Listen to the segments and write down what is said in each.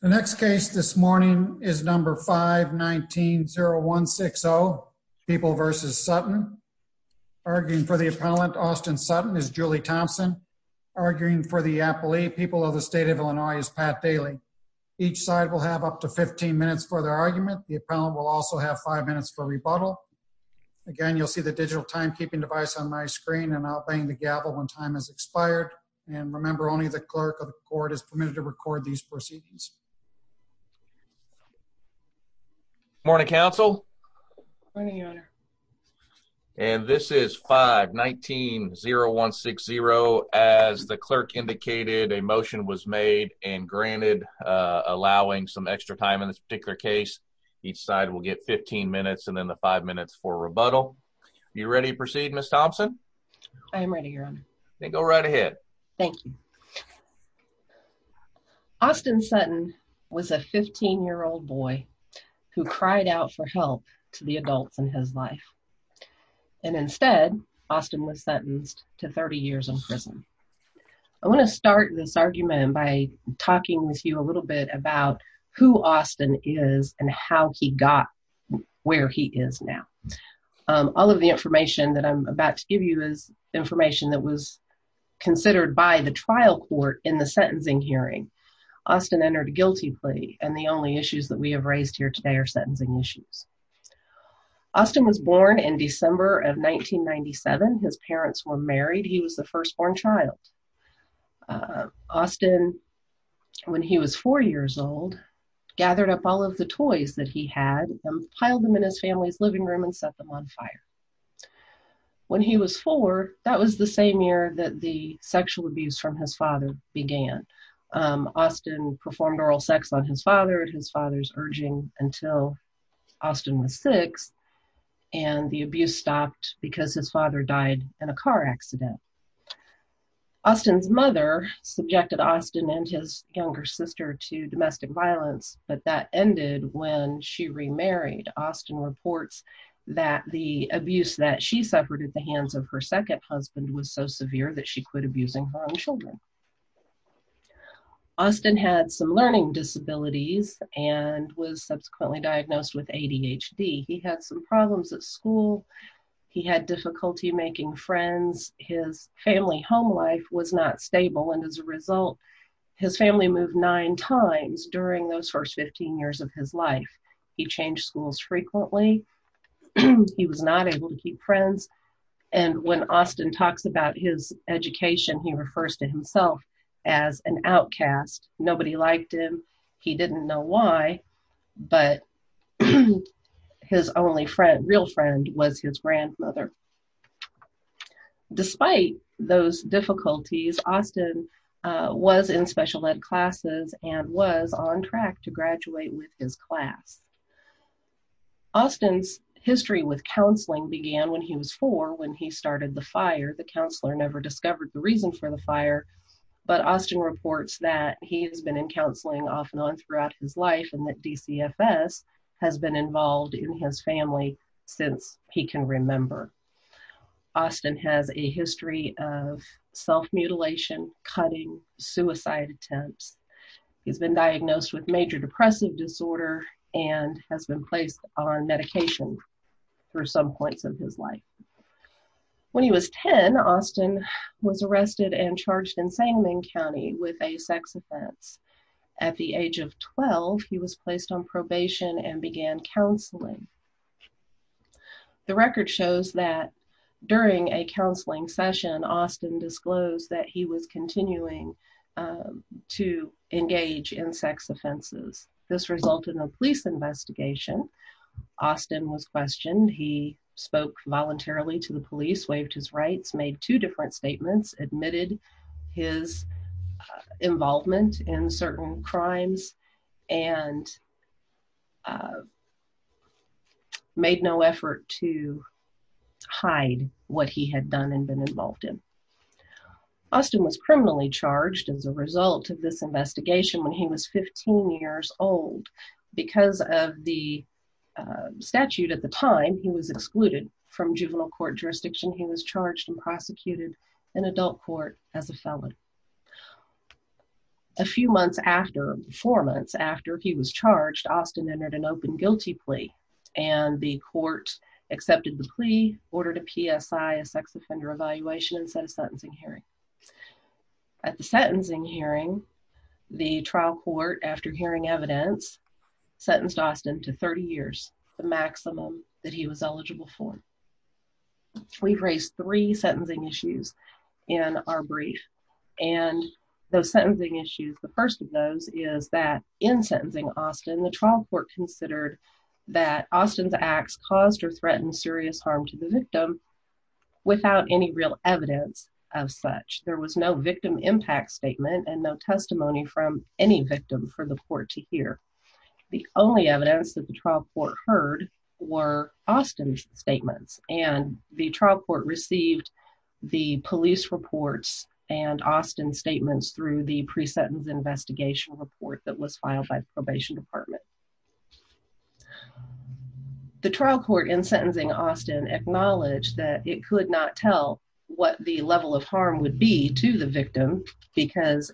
The next case this morning is number 5190160, People v. Sutton. Arguing for the appellant, Austin Sutton, is Julie Thompson. Arguing for the appellee, People of the State of Illinois, is Pat Daly. Each side will have up to 15 minutes for their argument. The appellant will also have 5 minutes for rebuttal. Again, you'll see the digital timekeeping device on my screen, and I'll bang the gavel when time has expired. And remember, only the clerk of the court is permitted to record these proceedings. Morning, Counsel. Morning, Your Honor. And this is 5190160. As the clerk indicated, a motion was made, and granted allowing some extra time in this particular case. Each side will get 15 minutes, and then the 5 minutes for rebuttal. You ready to proceed, Ms. Thompson? I am ready, Your Honor. Then go right ahead. Thank you. Austin Sutton was a 15-year-old boy who cried out for help to the adults in his life. And instead, Austin was sentenced to 30 years in prison. I want to start this argument by talking with you a little bit about who Austin is and how he got where he is now. All of the information that I'm about to give you is information that was considered by the trial court in the sentencing hearing. Austin entered a guilty plea, and the only issues that we have raised here today are sentencing issues. Austin was born in December of 1997. His parents were married. He was the firstborn child. Austin, when he was 4 years old, gathered up all of the toys that he had and piled them in his family's living room and set them on fire. When he was 4, that was the same year that the sexual abuse from his father began. Austin performed oral sex on his father, his father's urging, until Austin was 6, and the abuse stopped because his father died in a car accident. Austin's mother subjected Austin and his younger sister to domestic violence, but that ended when she remarried. Austin reports that the abuse that she suffered at the hands of her second husband was so severe that she quit abusing her own children. Austin had some learning disabilities and was subsequently diagnosed with ADHD. He had some problems at school. He had difficulty making friends. His family home life was not stable, and as a result, his family moved nine times during those first 15 years of his life. He changed schools frequently. He was not able to keep friends, and when Austin talks about his education, he refers to himself as an outcast. Nobody liked him. He didn't know why, but his only real friend was his grandmother. Despite those difficulties, Austin was in special ed classes and was on track to graduate with his class. Austin's history with counseling began when he was 4 when he started the fire. The counselor never discovered the reason for the fire, but Austin reports that he has been in counseling off and on throughout his life and that DCFS has been involved in his family since he can remember. Austin has a history of self-mutilation, cutting, suicide attempts. He's been diagnosed with major depressive disorder and has been placed on medication for some points of his life. When he was 10, Austin was arrested and charged in Sangamon County with a sex offense. At the age of 12, he was placed on probation and began counseling. The record shows that during a counseling session, Austin disclosed that he was continuing to engage in sex offenses. This resulted in a police investigation. Austin was questioned. He spoke voluntarily to the police, waived his rights, made two different statements, admitted his involvement in certain crimes, and made no effort to hide what he had done and been involved in. Austin was criminally charged as a result of this investigation when he was 15 years old. Because of the statute at the time, he was excluded from juvenile court jurisdiction. He was charged and prosecuted in adult court as a felon. A few months after, four months after he was charged, Austin entered an open guilty plea, and the court accepted the plea, ordered a PSI, a sex offender evaluation, and set a sentencing hearing. At the sentencing hearing, the trial court, after hearing evidence, sentenced Austin to 30 years, the maximum that he was eligible for. We've raised three sentencing issues in our brief, and those sentencing issues, the first of those is that in sentencing Austin, the trial court considered that Austin's acts caused or threatened serious harm to the victim without any real evidence of such. There was no victim impact statement and no testimony from any victim for the court to hear. The only evidence that the trial court heard were Austin's statements, and the trial court received the police reports and Austin's statements through the pre-sentence investigation report that was filed by the probation department. The trial court in sentencing Austin acknowledged that it could not tell what the level of harm would be to the victim because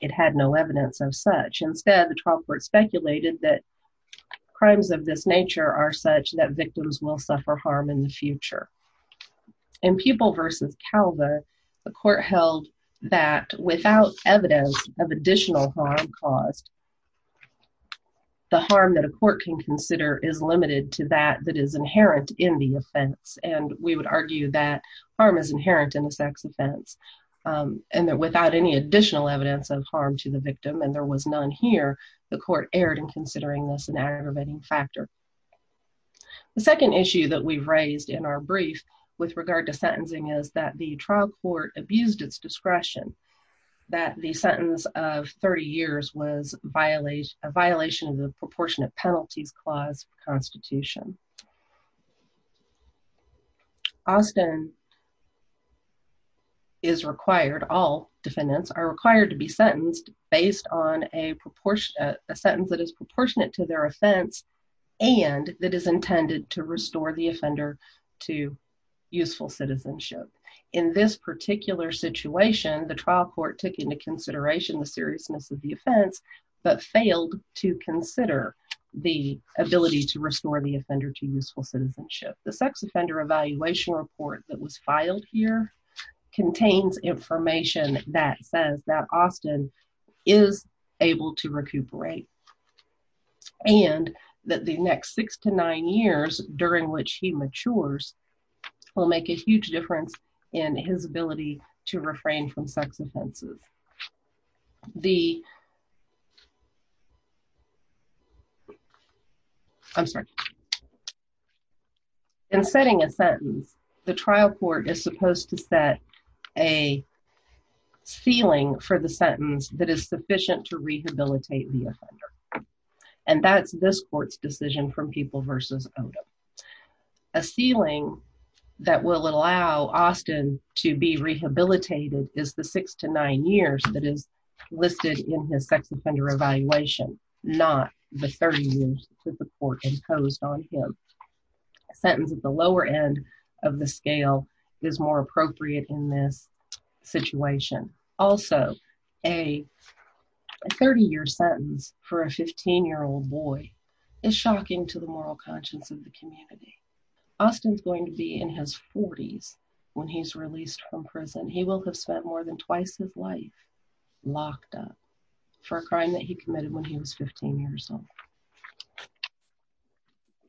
it had no evidence of such. Instead, the trial court speculated that crimes of this nature are such that victims will suffer harm in the future. In Pupil v. Calva, the court held that without evidence of additional harm caused, the harm that a court can consider is limited to that that is inherent in the offense, and we would argue that harm is inherent in the sex offense, and that without any additional evidence of harm to the victim, and there was none here, the court erred in considering this an aggravating factor. The second issue that we've raised in our brief with regard to sentencing is that the trial court abused its discretion that the sentence of 30 years was a violation of the Proportionate Penalties Clause of the Constitution. Austin is required, all defendants are required to be sentenced based on a sentence that is proportionate to their offense and that is intended to restore the offender to useful citizenship. In this particular situation, the trial court took into consideration the seriousness of the offense but failed to consider the ability to restore the offender. to useful citizenship. The sex offender evaluation report that was filed here contains information that says that Austin is able to recuperate and that the next six to nine years during which he matures will make a huge difference in his ability to refrain from sex offenses. The... I'm sorry. In setting a sentence, the trial court is supposed to set a ceiling for the sentence that is sufficient to rehabilitate the offender and that's this court's decision from People v. Odom. A ceiling that will allow Austin to be rehabilitated is the six to nine years that is listed in his sex offender evaluation not the 30 years that the court imposed on him. A sentence at the lower end of the scale is more appropriate in this situation. Also, a 30-year sentence for a 15-year-old boy is shocking to the moral conscience of the community. Austin's going to be in his 40s when he's released from prison. He will have spent more than twice his life locked up for a crime that he committed when he was 15 years old.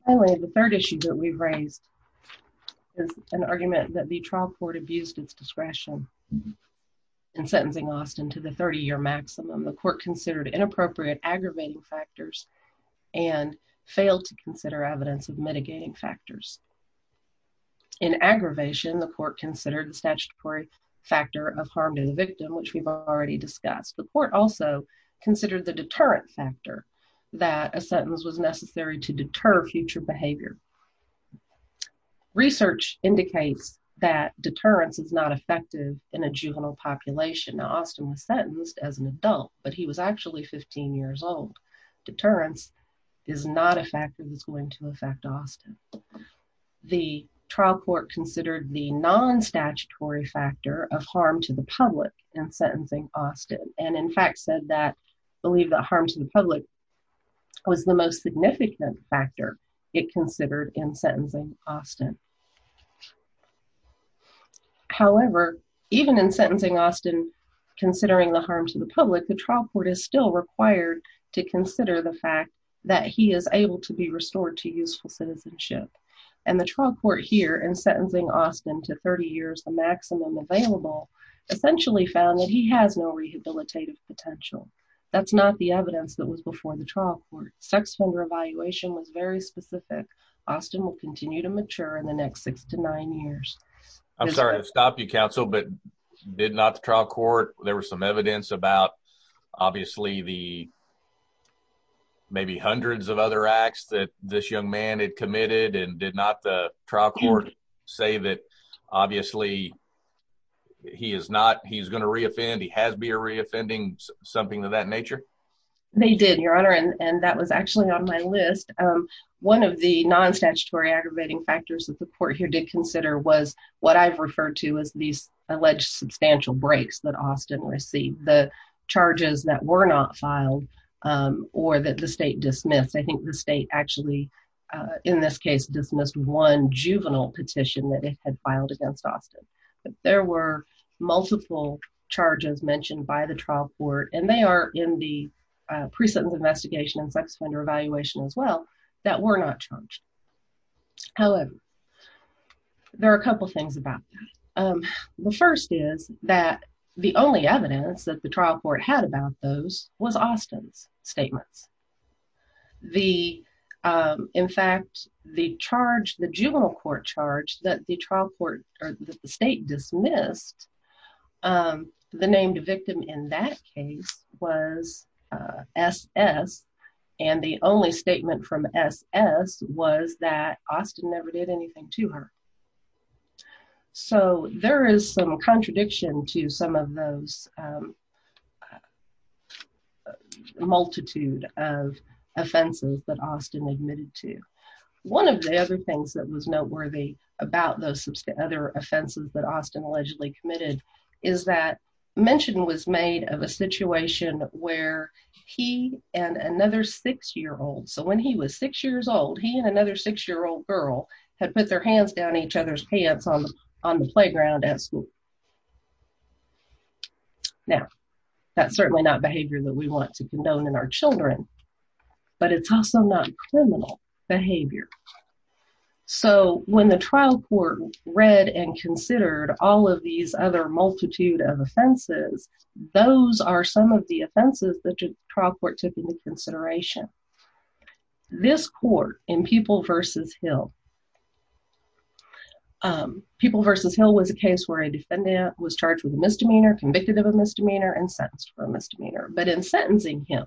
Finally, the third issue that we've raised is an argument that the trial court abused its discretion in sentencing Austin to the 30-year maximum. The court considered inappropriate aggravating factors and failed to consider evidence of mitigating factors. In aggravation, the court considered the statutory factor of harm to the victim which we've already discussed. The court also considered the deterrent factor that a sentence was necessary to deter future behavior. Research indicates that deterrence is not effective in a juvenile population. Austin was sentenced as an adult, but he was actually 15 years old. Deterrence is not a factor that's going to affect Austin. The trial court considered the non-statutory factor of harm to the public in sentencing Austin and in fact said that, believed that harm to the public was the most significant factor it considered in sentencing Austin. However, even in sentencing Austin, considering the harm to the public, the trial court is still required to consider the fact that he is able to be restored to useful citizenship. And the trial court here in sentencing Austin to 30 years, the maximum available, essentially found that he has no rehabilitative potential. That's not the evidence that was before the trial court. Sex offender evaluation was very specific. Austin will continue to mature in the next six to nine years. I'm sorry to stop you, counsel, but did not the trial court, there was some evidence about obviously the, maybe hundreds of other acts that this young man had committed and did not the trial court say that obviously he is not, he's going to reoffend. He has be a reoffending something of that nature. They did your honor. And that was actually on my list. One of the non-statutory aggravating factors that the court here did consider was what I've referred to as these alleged substantial breaks that Austin received, the charges that were not filed or that the state dismissed. I think the state actually in this case dismissed one juvenile petition that it had filed against Austin. There were multiple charges mentioned by the trial court and they are in the pre-sentence investigation and sex offender evaluation as well that were not charged. However, there are a couple of things about that. The first is that the only evidence that the trial court had about those was Austin's statements. The in fact the charge, the juvenile court charge that the trial court or the state dismissed the named victim in that case was SS. And the only statement from SS was that Austin never did anything to her. So there is some contradiction to some of those multitude of offenses that Austin admitted to. One of the other things that was noteworthy about those other offenses that Austin allegedly committed is that mention was made of a situation where he and another six year old. So when he was six years old, he and another six year old girl had put their hands down each other's pants on the playground at school. Now that's certainly not behavior that we want to condone in our children, but it's also not criminal behavior. So when the trial court read and considered all of these other multitude of offenses, those are some of the offenses that the trial court took into consideration. This court in People v. Hill, People v. Hill was a case where a defendant was charged with a misdemeanor, convicted of a misdemeanor and sentenced for a misdemeanor. But in sentencing him,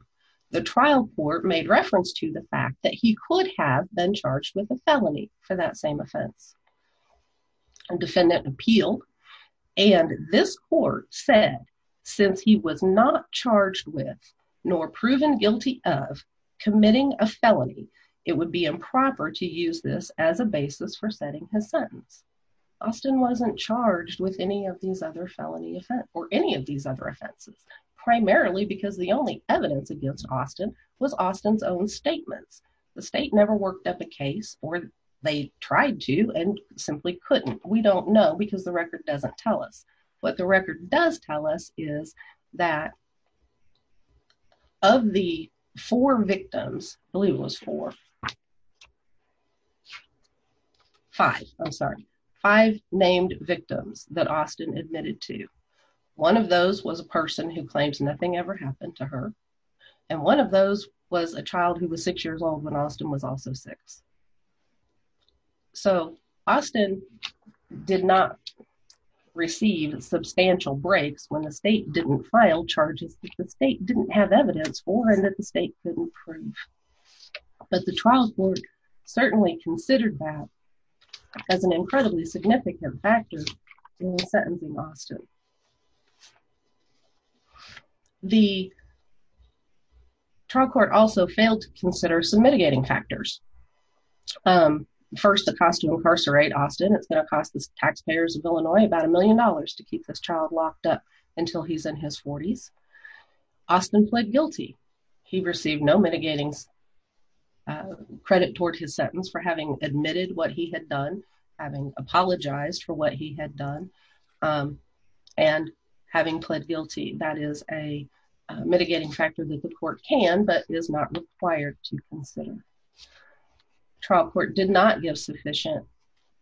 the trial court made reference to the fact that he could have been charged with a felony for that same offense. And defendant appealed and this court said since he was not charged with nor proven guilty of committing a felony, it would be improper to use this as a basis for setting his sentence. Austin wasn't charged with any of these other felony offense or any of these other offenses, primarily because the only evidence against Austin was Austin's own statements. The state never worked up a case or they tried to and simply couldn't. We don't know because the record doesn't tell us. What the record does tell us is that of the four victims, I believe it was four, five, I'm sorry, five named victims that Austin admitted to. One of those was a person who claims nothing ever happened to her. And one of those was a child who was six years old when Austin was also six. So, Austin did not receive substantial breaks when the state didn't file charges that the state didn't have evidence for and that the state couldn't prove. But the trial court certainly considered that as an incredibly significant factor in sentencing Austin. The trial court also failed to consider some mitigating factors. First, the cost to incarcerate Austin, it's going to cost the taxpayers of Illinois about a million dollars to keep this child locked up until he's in his forties. Austin pled guilty. He received no mitigating credit toward his sentence for having admitted what he had done, having apologized for what he had done, and having pled guilty. That is a mitigating factor that the court can, but is not required to consider. Trial court did not give sufficient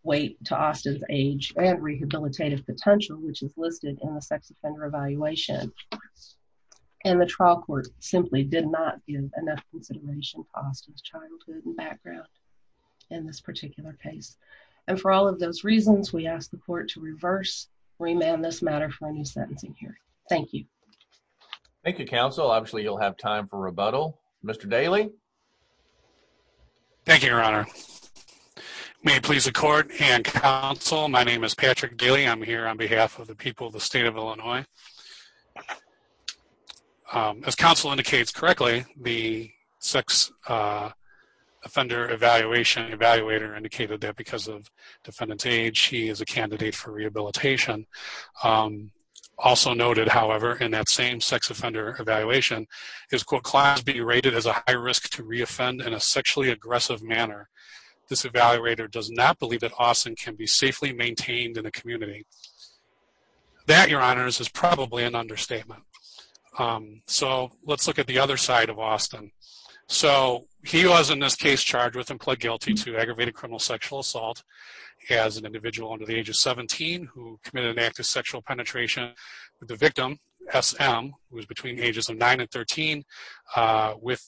weight to Austin's age and rehabilitative potential, which is listed in the sex offender evaluation. And the trial court simply did not give enough consideration to Austin's childhood and background in this particular case. And for all of those reasons, we ask the court to reverse, remand this matter for a new sentencing hearing. Thank you. Thank you, counsel. Obviously you'll have time for rebuttal. Mr. Daly. Thank you, your honor. May it please the court and counsel. My name is Patrick Daly. I'm here on behalf of the people of the state of Illinois. As counsel indicates correctly, the sex offender evaluation evaluator indicated that because of defendant's age, he is a candidate for rehabilitation. Also noted, however, in that same sex offender evaluation, his quote class be rated as a high risk to reoffend in a sexually aggressive manner. This evaluator does not believe that Austin can be safely maintained in a community. That your honors is probably an understatement. So let's look at the other side of Austin. So he was in this case charged with and pled guilty to aggravated criminal sexual assault as an individual under the age of 17, who committed an act of sexual penetration with the victim, SM was between ages of nine and 13 with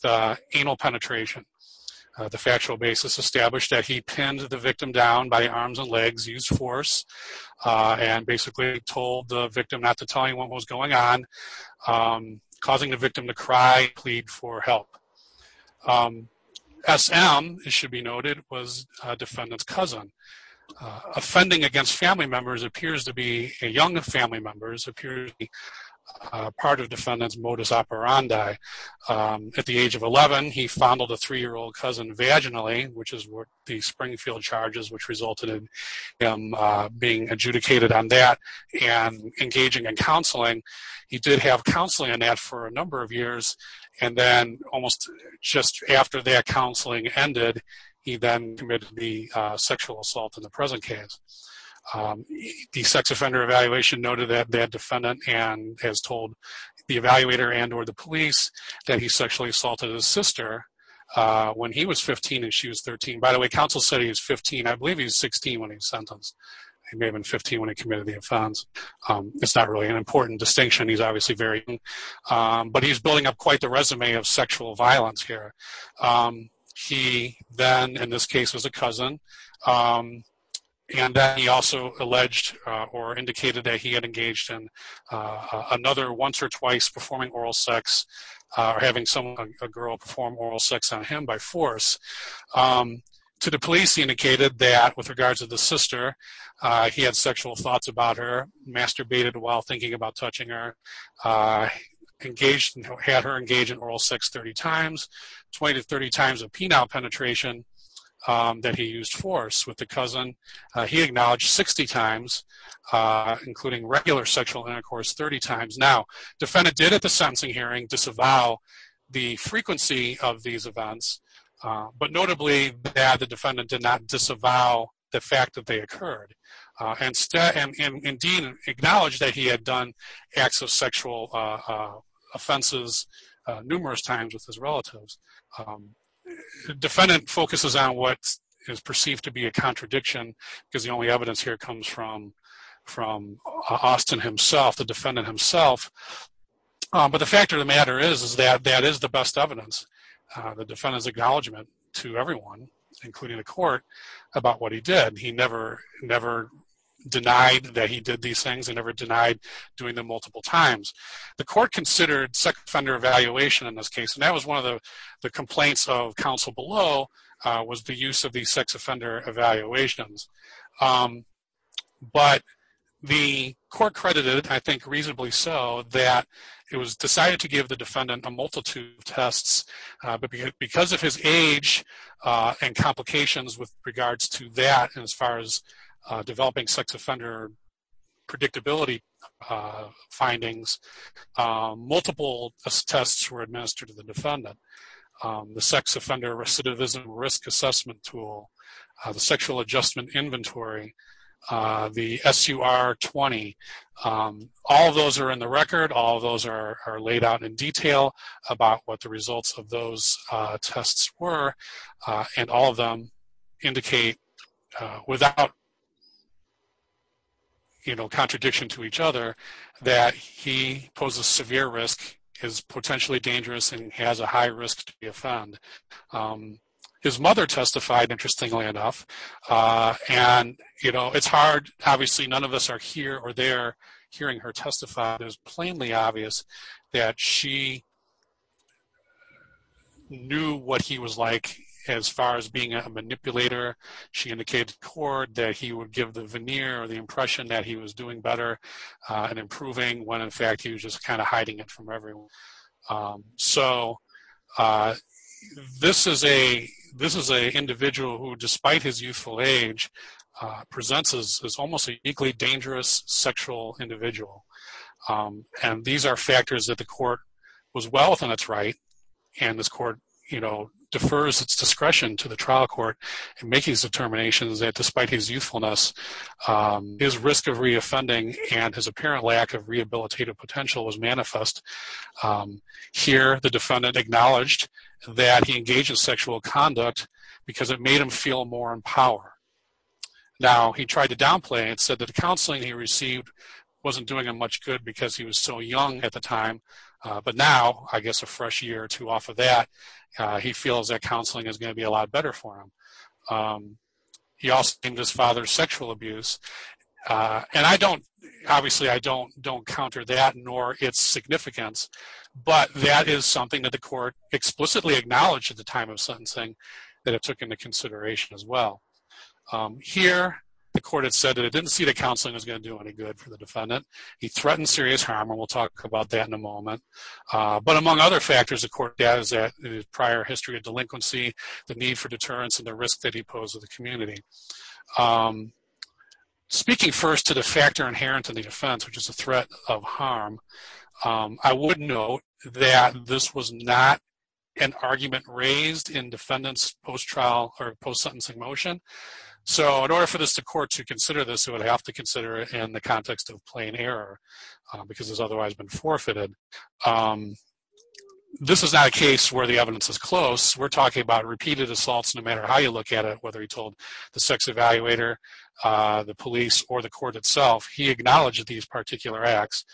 anal penetration. The factual basis established that he pinned the victim down by arms and legs use force and basically told the victim not to tell anyone what was going on, causing the victim to cry, plead for help. SM, it should be noted was a defendant's cousin. Offending against family members appears to be a young family members appears to be part of defendant's modus operandi. At the age of 11, he fondled a three-year-old cousin vaginally, which is what the Springfield charges, which resulted in him being adjudicated on that and engaging in counseling. He did have counseling on that for a number of years. And then almost just after that counseling ended, he then committed the sexual assault in the present case. The sex offender evaluation noted that that defendant and has told the evaluator and or the police that he sexually assaulted his sister when he was 15 and she was 13. By the way, counsel said he was 15. I believe he was 16 when he was sentenced. He may have been 15 when he committed the offense. It's not really an important distinction. He's obviously very, but he's building up quite the resume of sexual violence here. He then in this case was a cousin. And then he also alleged or indicated that he had engaged in another once or twice performing oral sex or having someone, a girl perform oral sex on him by force to the police. He indicated that with regards to the sister, he had sexual thoughts about her masturbated while thinking about touching her engaged and had her engage in oral sex 30 times, 20 to 30 times of penile penetration that he used force with the cousin. He acknowledged 60 times including regular sexual intercourse 30 times. Now defendant did at the sentencing hearing disavow the frequency of these events. But notably, the defendant did not disavow the fact that they occurred. Instead and Dean acknowledged that he had done acts of sexual offenses numerous times with his relatives. Defendant focuses on what is perceived to be a contradiction because the only evidence here comes from, from Austin himself, the defendant himself. But the fact of the matter is, is that that is the best evidence. The defendant's acknowledgement to everyone, including the court about what he did. He never, never denied that he did these things and never denied doing them multiple times. The court considered sex offender evaluation in this case. And that was one of the complaints of council below was the use of these sex offender evaluations. But the court credited, I think reasonably so that it was decided to give the defendant a multitude of tests. But because of his age and complications with regards to that, as far as developing sex offender predictability findings, multiple tests were administered to the defendant. The sex offender recidivism risk assessment tool, the sexual adjustment inventory, the SUR 20, all of those are in the record. All of those are laid out in detail about what the results of those tests were and all of them indicate without, you know, contradiction to each other that he poses severe risk is potentially dangerous and has a high risk to be a fund. His mother testified interestingly enough. And, you know, it's hard, obviously none of us are here or there hearing her testify. There's plainly obvious that she knew what he was like, as far as being a manipulator. She indicated to the court that he would give the veneer or the impression that he was doing better and improving when in fact he was just kind of hiding it from everyone. So this is a, this is a individual who despite his youthful age presents as almost a uniquely dangerous sexual individual. And these are factors that the court was well within its right. And this court, you know, defers its discretion to the trial court and making these determinations that despite his youthfulness, his risk of reoffending and his apparent lack of rehabilitative potential was manifest. Here the defendant acknowledged that he engaged in sexual conduct because it made him feel more in power. Now, he tried to downplay and said that the counseling he received wasn't doing him much good because he was so young at the time. But now, I guess a fresh year or two off of that, he feels that counseling is going to be a lot better for him. He also named his father's sexual abuse. And I don't, obviously I don't, don't counter that nor its significance, but that is something that the court explicitly acknowledged at the time of sentencing that it took into consideration as well. Here the court had said that it didn't see the counseling was going to do any good for the defendant. He threatened serious harm. And we'll talk about that in a moment. But among other factors, the court does that prior history of delinquency, the need for deterrence and the risk that he posed with the community. Speaking first to the factor inherent to the defense, which is a threat of harm. I would note that this was not an argument raised in defendants, post trial or post sentencing motion. So in order for this to court to consider this, to have to consider it in the context of plain error because it's otherwise been forfeited. This is not a case where the evidence is close. We're talking about repeated assaults, no matter how you look at it, whether he told the sex evaluator, the police or the court itself, he acknowledged these particular acts.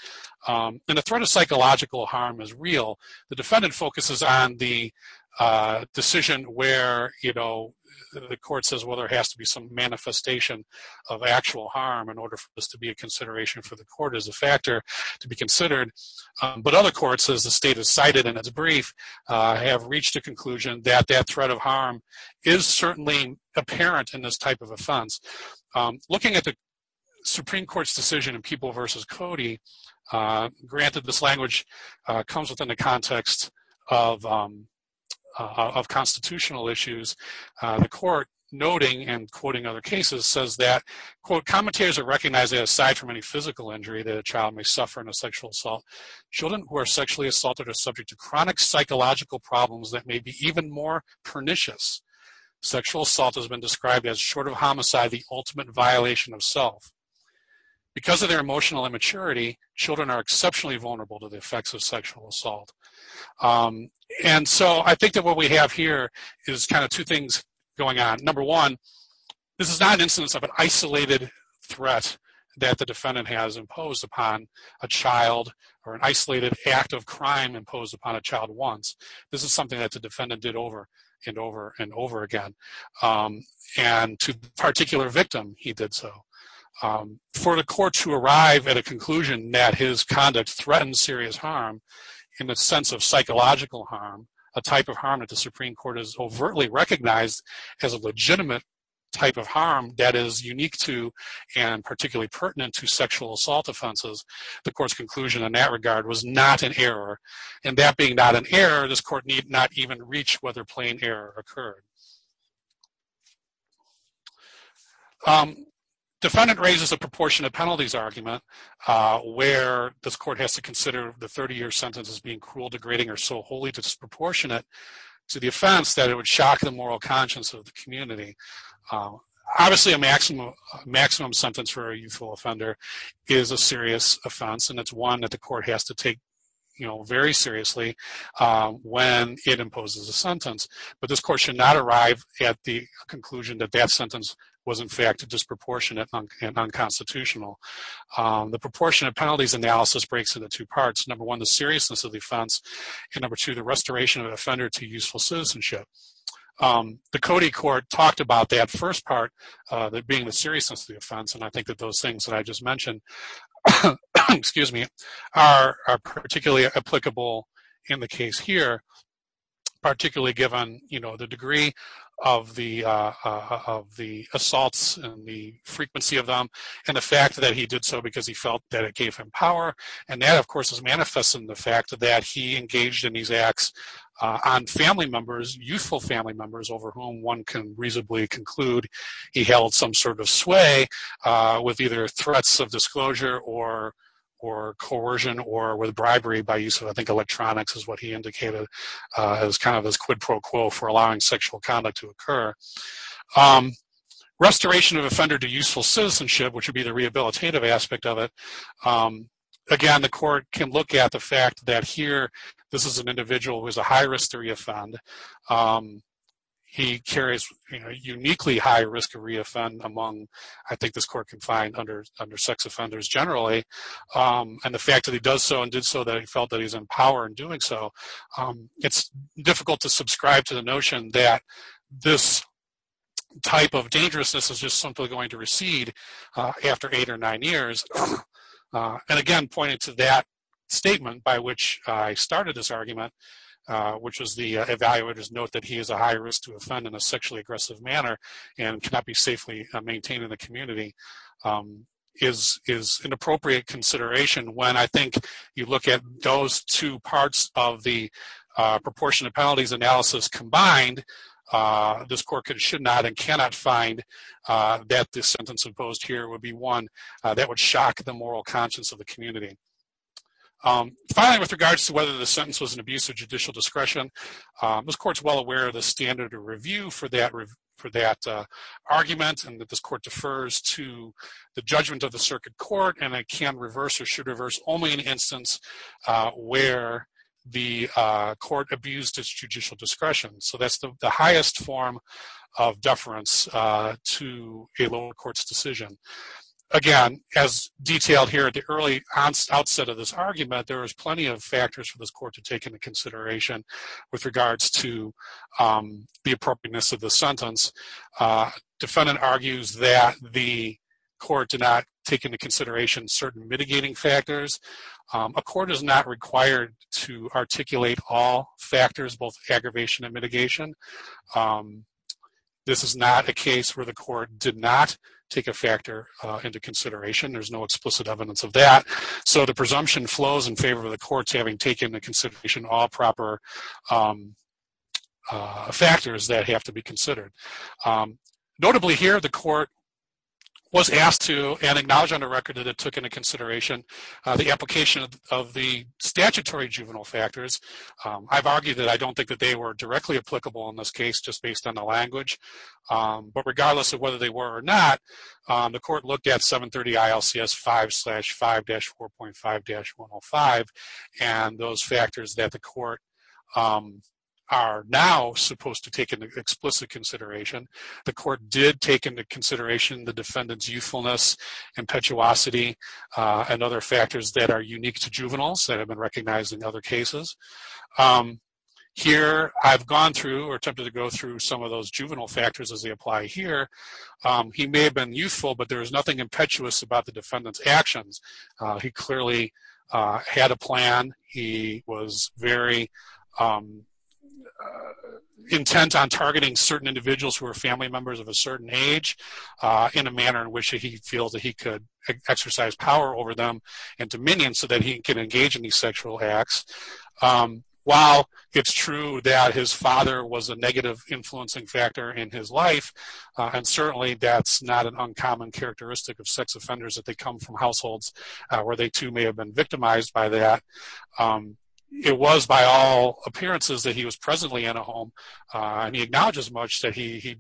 And the threat of psychological harm is real. The defendant focuses on the decision where, you know, the court says, well, there has to be some manifestation of actual harm in order for this to be a consideration for the court as a factor to be considered. But other courts, as the state has cited in its brief, have reached a conclusion that that threat of harm is certainly apparent in this type of offense. Looking at the Supreme Court's decision in People v. Cody, granted this language comes within the context of constitutional issues. The court, noting and quoting other cases, says that, quote, commentators are recognizing aside from any physical injury that a child may suffer in a sexual assault, children who are sexually assaulted are subject to chronic psychological problems that may be even more pernicious. Sexual assault has been described as short of homicide, the ultimate violation of self. Because of their emotional immaturity, children are exceptionally vulnerable to the effects of sexual assault. And so I think that what we have here is kind of two things going on. Number one, this is not an instance of an isolated threat that the defendant has imposed upon a child or an isolated act of crime imposed upon a child once. This is something that the defendant did over and over and over again. And to a particular victim, he did so. For the court to arrive at a conclusion that his conduct threatened serious harm in the sense of psychological harm, a type of harm that the Supreme Court has overtly recognized as a legitimate type of harm that is unique to and particularly pertinent to sexual assault offenses, the court's conclusion in that regard was not an error. And that being not an error, this court need not even reach whether plain error occurred. Defendant raises a proportionate penalties argument where this court has to consider the 30-year sentence as being cruel, degrading, or so wholly disproportionate to the offense that it would shock the moral conscience of the community. Obviously, a maximum sentence for a youthful offender is a serious offense. And it's one that the court has to take very seriously when it imposes a sentence. But this court should not arrive at the conclusion that that sentence was in fact disproportionate and unconstitutional. The proportionate penalties analysis breaks into two parts. Number one, the seriousness of the offense. And number two, the restoration of an offender to useful citizenship. The Cody Court talked about that first part, that being the seriousness of the offense. And I think that those things that I just mentioned are particularly applicable in the case here, particularly given the degree of the assaults and the frequency of them and the fact that he did so because he felt that it gave him power. And that, of course, is manifest in the fact that he engaged in these acts on family members, youthful family members over whom one can reasonably conclude he held some sort of sway with either threats of disclosure or coercion or with bribery by use of, I think, electronics is what he indicated as kind of his quid pro quo for allowing sexual conduct to occur. Restoration of offender to useful citizenship, which would be the rehabilitative aspect of it. Again, the court can look at the fact that here this is an individual who is a high risk to reoffend. He carries uniquely high risk of reoffend among, I think, this court can find under sex offenders generally. And the fact that he does so and did so that he felt that he's in power in doing so, it's difficult to subscribe to the notion that this type of dangerousness is just simply going to recede after eight or nine years. And again, pointing to that statement by which I started this argument, which was the evaluator's note that he is a high risk to offend in a sexually aggressive manner and cannot be safely maintained in the community is an appropriate consideration when I think you look at those two parts of the proportionate penalties analysis combined this court should not and cannot find that this sentence imposed here would be one that would shock the moral conscience of the community. Finally, with regards to whether the sentence was an abuse of judicial discretion, this court's well aware of the standard of review for that argument and that this court defers to the judgment of the circuit court and it can reverse or should reverse only an instance where the court abused its judicial discretion. So that's the highest form of deference to a lower court's decision. Again, as detailed here at the early outset of this argument, there was plenty of factors for this court to take into consideration with regards to the appropriateness of the sentence. Defendant argues that the court did not take into consideration certain mitigating factors. A court is not required to articulate all factors, both aggravation and mitigation. This is not a case where the court did not take a factor into consideration. There's no explicit evidence of that. So the presumption flows in favor of the courts having taken into consideration all proper factors that have to be considered. Notably here, the court was asked to, and acknowledged on the record that it took into consideration the application of the statutory juvenile factors. I've argued that I don't think that they were directly applicable in this case just based on the language. But regardless of whether they were or not, the court looked at 730 ILCS 5-5-4.5-105 and those factors that the court are now supposed to take into explicit consideration. The court did take into consideration the defendant's youthfulness, impetuosity, and other factors that are unique to juveniles that have been recognized in other cases. Here, I've gone through or attempted to go through some of those juvenile factors as they apply here. He may have been youthful, but there was nothing impetuous about the defendant's actions. He clearly had a plan. He was very intent on targeting certain individuals who are family members of a certain age in a manner in which he feels that he could exercise power over them and dominion so that he can engage in these sexual acts. While it's true that his father was a negative influencing factor in his life, and certainly that's not an uncommon characteristic of sex offenders that they come from households where they too may have been victimized by that, it was by all appearances that he was presently in a home. And he acknowledged as much that he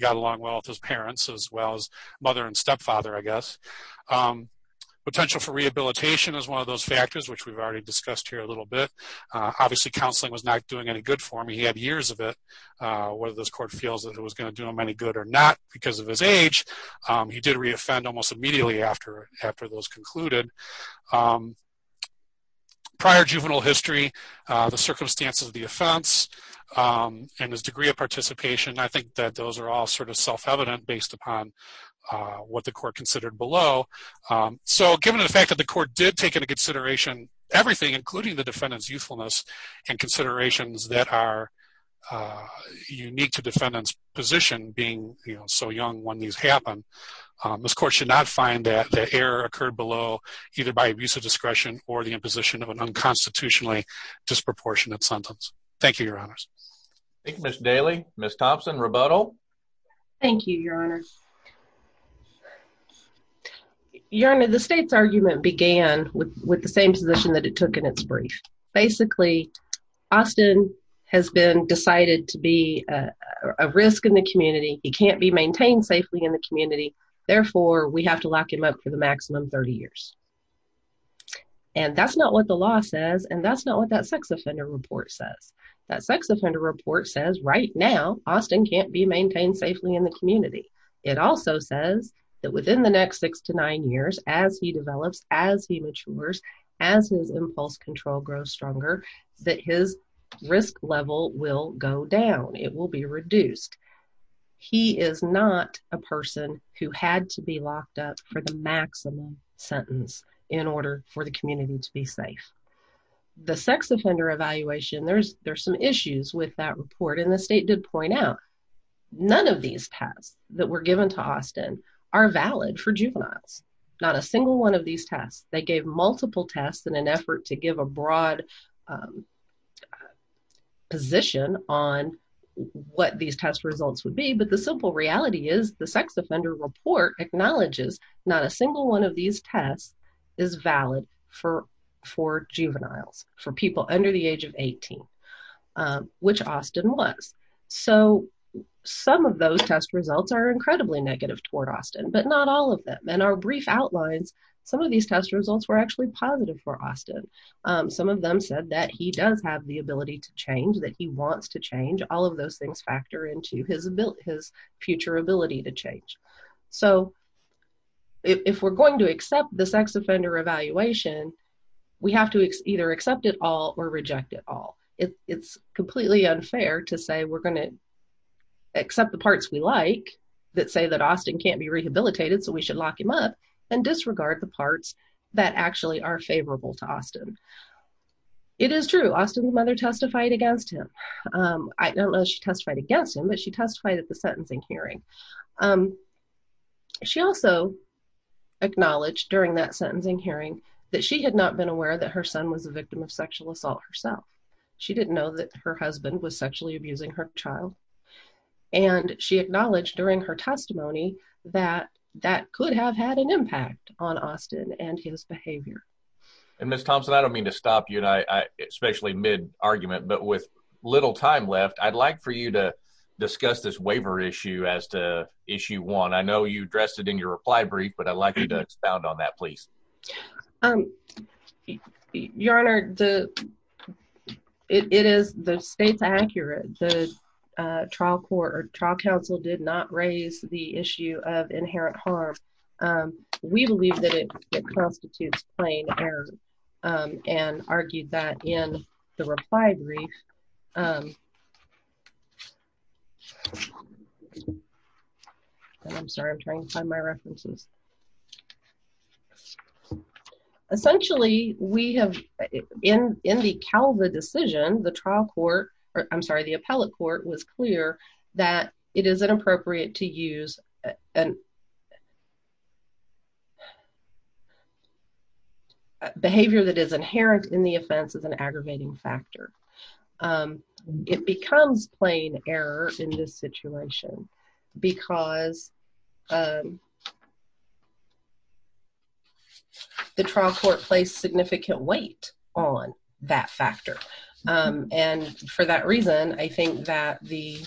got along well with his parents as well as mother and stepfather, I guess. Potential for rehabilitation is one of those factors which we've already discussed here a little bit. Obviously, counseling was not doing any good for him. He had years of it. Whether this court feels that it was going to do him any good or not because of his age, he did re-offend almost immediately after those concluded. Prior juvenile history, the circumstances of the offense, and his degree of participation, I think that those are all sort of self-evident based upon what the court considered below. So given the fact that the court did take into consideration everything, including the defendant's youthfulness and considerations that are unique to defendant's position being so young when these happen, this court should not find that the error occurred below either by abuse of discretion or the imposition of an unconstitutionally disproportionate sentence. Thank you, Your Honors. Thank you, Ms. Daly. Ms. Thompson, rebuttal? Thank you, Your Honor. Your Honor, the state's argument began with the same position that it took in its brief. Basically, Austin has been decided to be a risk in the community. He can't be maintained safely in the community. Therefore, we have to lock him up for the maximum 30 years. And that's not what the law says, and that's not what that sex offender report says. That sex offender report says, right now, Austin can't be maintained safely in the community. It also says that within the next six to nine years, as he develops, as he matures, as his impulse control grows stronger, that his risk level will go down. It will be reduced. He is not a person who had to be locked up for the maximum sentence in order for the community to be safe. The sex offender evaluation, there's some issues with that report. And the state did point out, none of these tests that were given to Austin are valid for juveniles. Not a single one of these tests. They gave multiple tests in an effort to give a broad position on what these test results would be. But the simple reality is, the sex offender report acknowledges not a single one of these tests is valid for juveniles, for people under the age of 18, which Austin was. So, some of those test results are incredibly negative toward Austin, but not all of them. And our brief outlines, some of these test results were actually positive for Austin. Some of them said that he does have the ability to change, that he wants to change. All of those things factor into his future ability to change. So, if we're going to accept the sex offender evaluation, we have to either accept it all or reject it all. It's completely unfair to say we're going to accept the parts we like that say that Austin can't be rehabilitated, so we should lock him up and disregard the parts that actually are favorable to Austin. It is true. Austin's mother testified against him. I don't know if she testified against him, but she testified at the sentencing hearing. She also acknowledged during that sentencing hearing that she had not been aware that her son was a victim of sexual assault herself. She didn't know that her husband was sexually abusing her child. And she acknowledged during her testimony that that could have had an impact on Austin and his behavior. And Ms. Thompson, I don't mean to stop you, especially mid-argument, but with little time left, I'd like for you to discuss this waiver issue as to issue one. I know you addressed it in your reply brief, but I'd like you to expound on that, please. Your Honor, it is the state's accurate. The trial court or trial counsel did not raise the issue of inherent harm. We believe that it constitutes plain error and argued that in the reply brief. I'm sorry, I'm trying to find my references. Essentially, we have, in the Calva decision, the trial court, I'm sorry, the appellate court was clear that it is inappropriate to use behavior that is inherent in the offense as an aggravating factor. It becomes plain error in this situation because the trial court placed significant weight on that factor. And for that reason, I think that the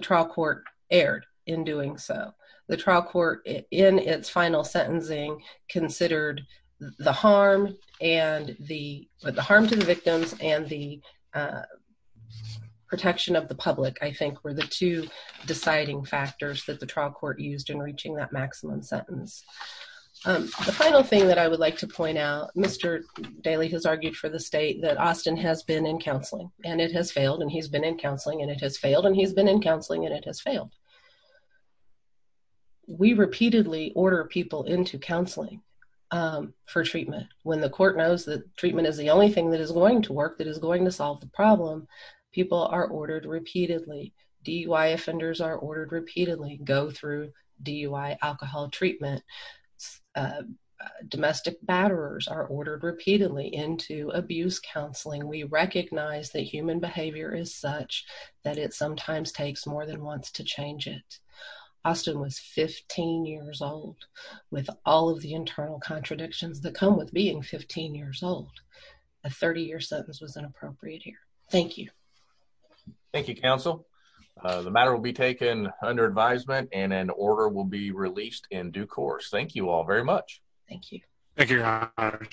trial court erred in doing so. The trial court in its final sentencing considered the harm to the victims and the protection of the public, I think were the two deciding factors that the trial court used in reaching that maximum sentence. The final thing that I would like to point out, Mr. Daley has argued for the state that Austin has been in counseling and it has failed and he's been in counseling and it has failed and he's been in counseling and it has failed. We repeatedly order people into counseling for treatment. is the only thing that is going to work, that is going to solve the problem, people are ordered repeatedly. DUI offenders are ordered repeatedly go through DUI alcohol treatment. Domestic batterers are ordered repeatedly into abuse counseling. We recognize that human behavior is such that it sometimes takes more than once to change it. Austin was 15 years old with all of the internal contradictions that come with being 15 years old. A 30 year sentence was inappropriate here. Thank you. Thank you, counsel. The matter will be taken under advisement and an order will be released in due course. Thank you all very much. Thank you. Thank you.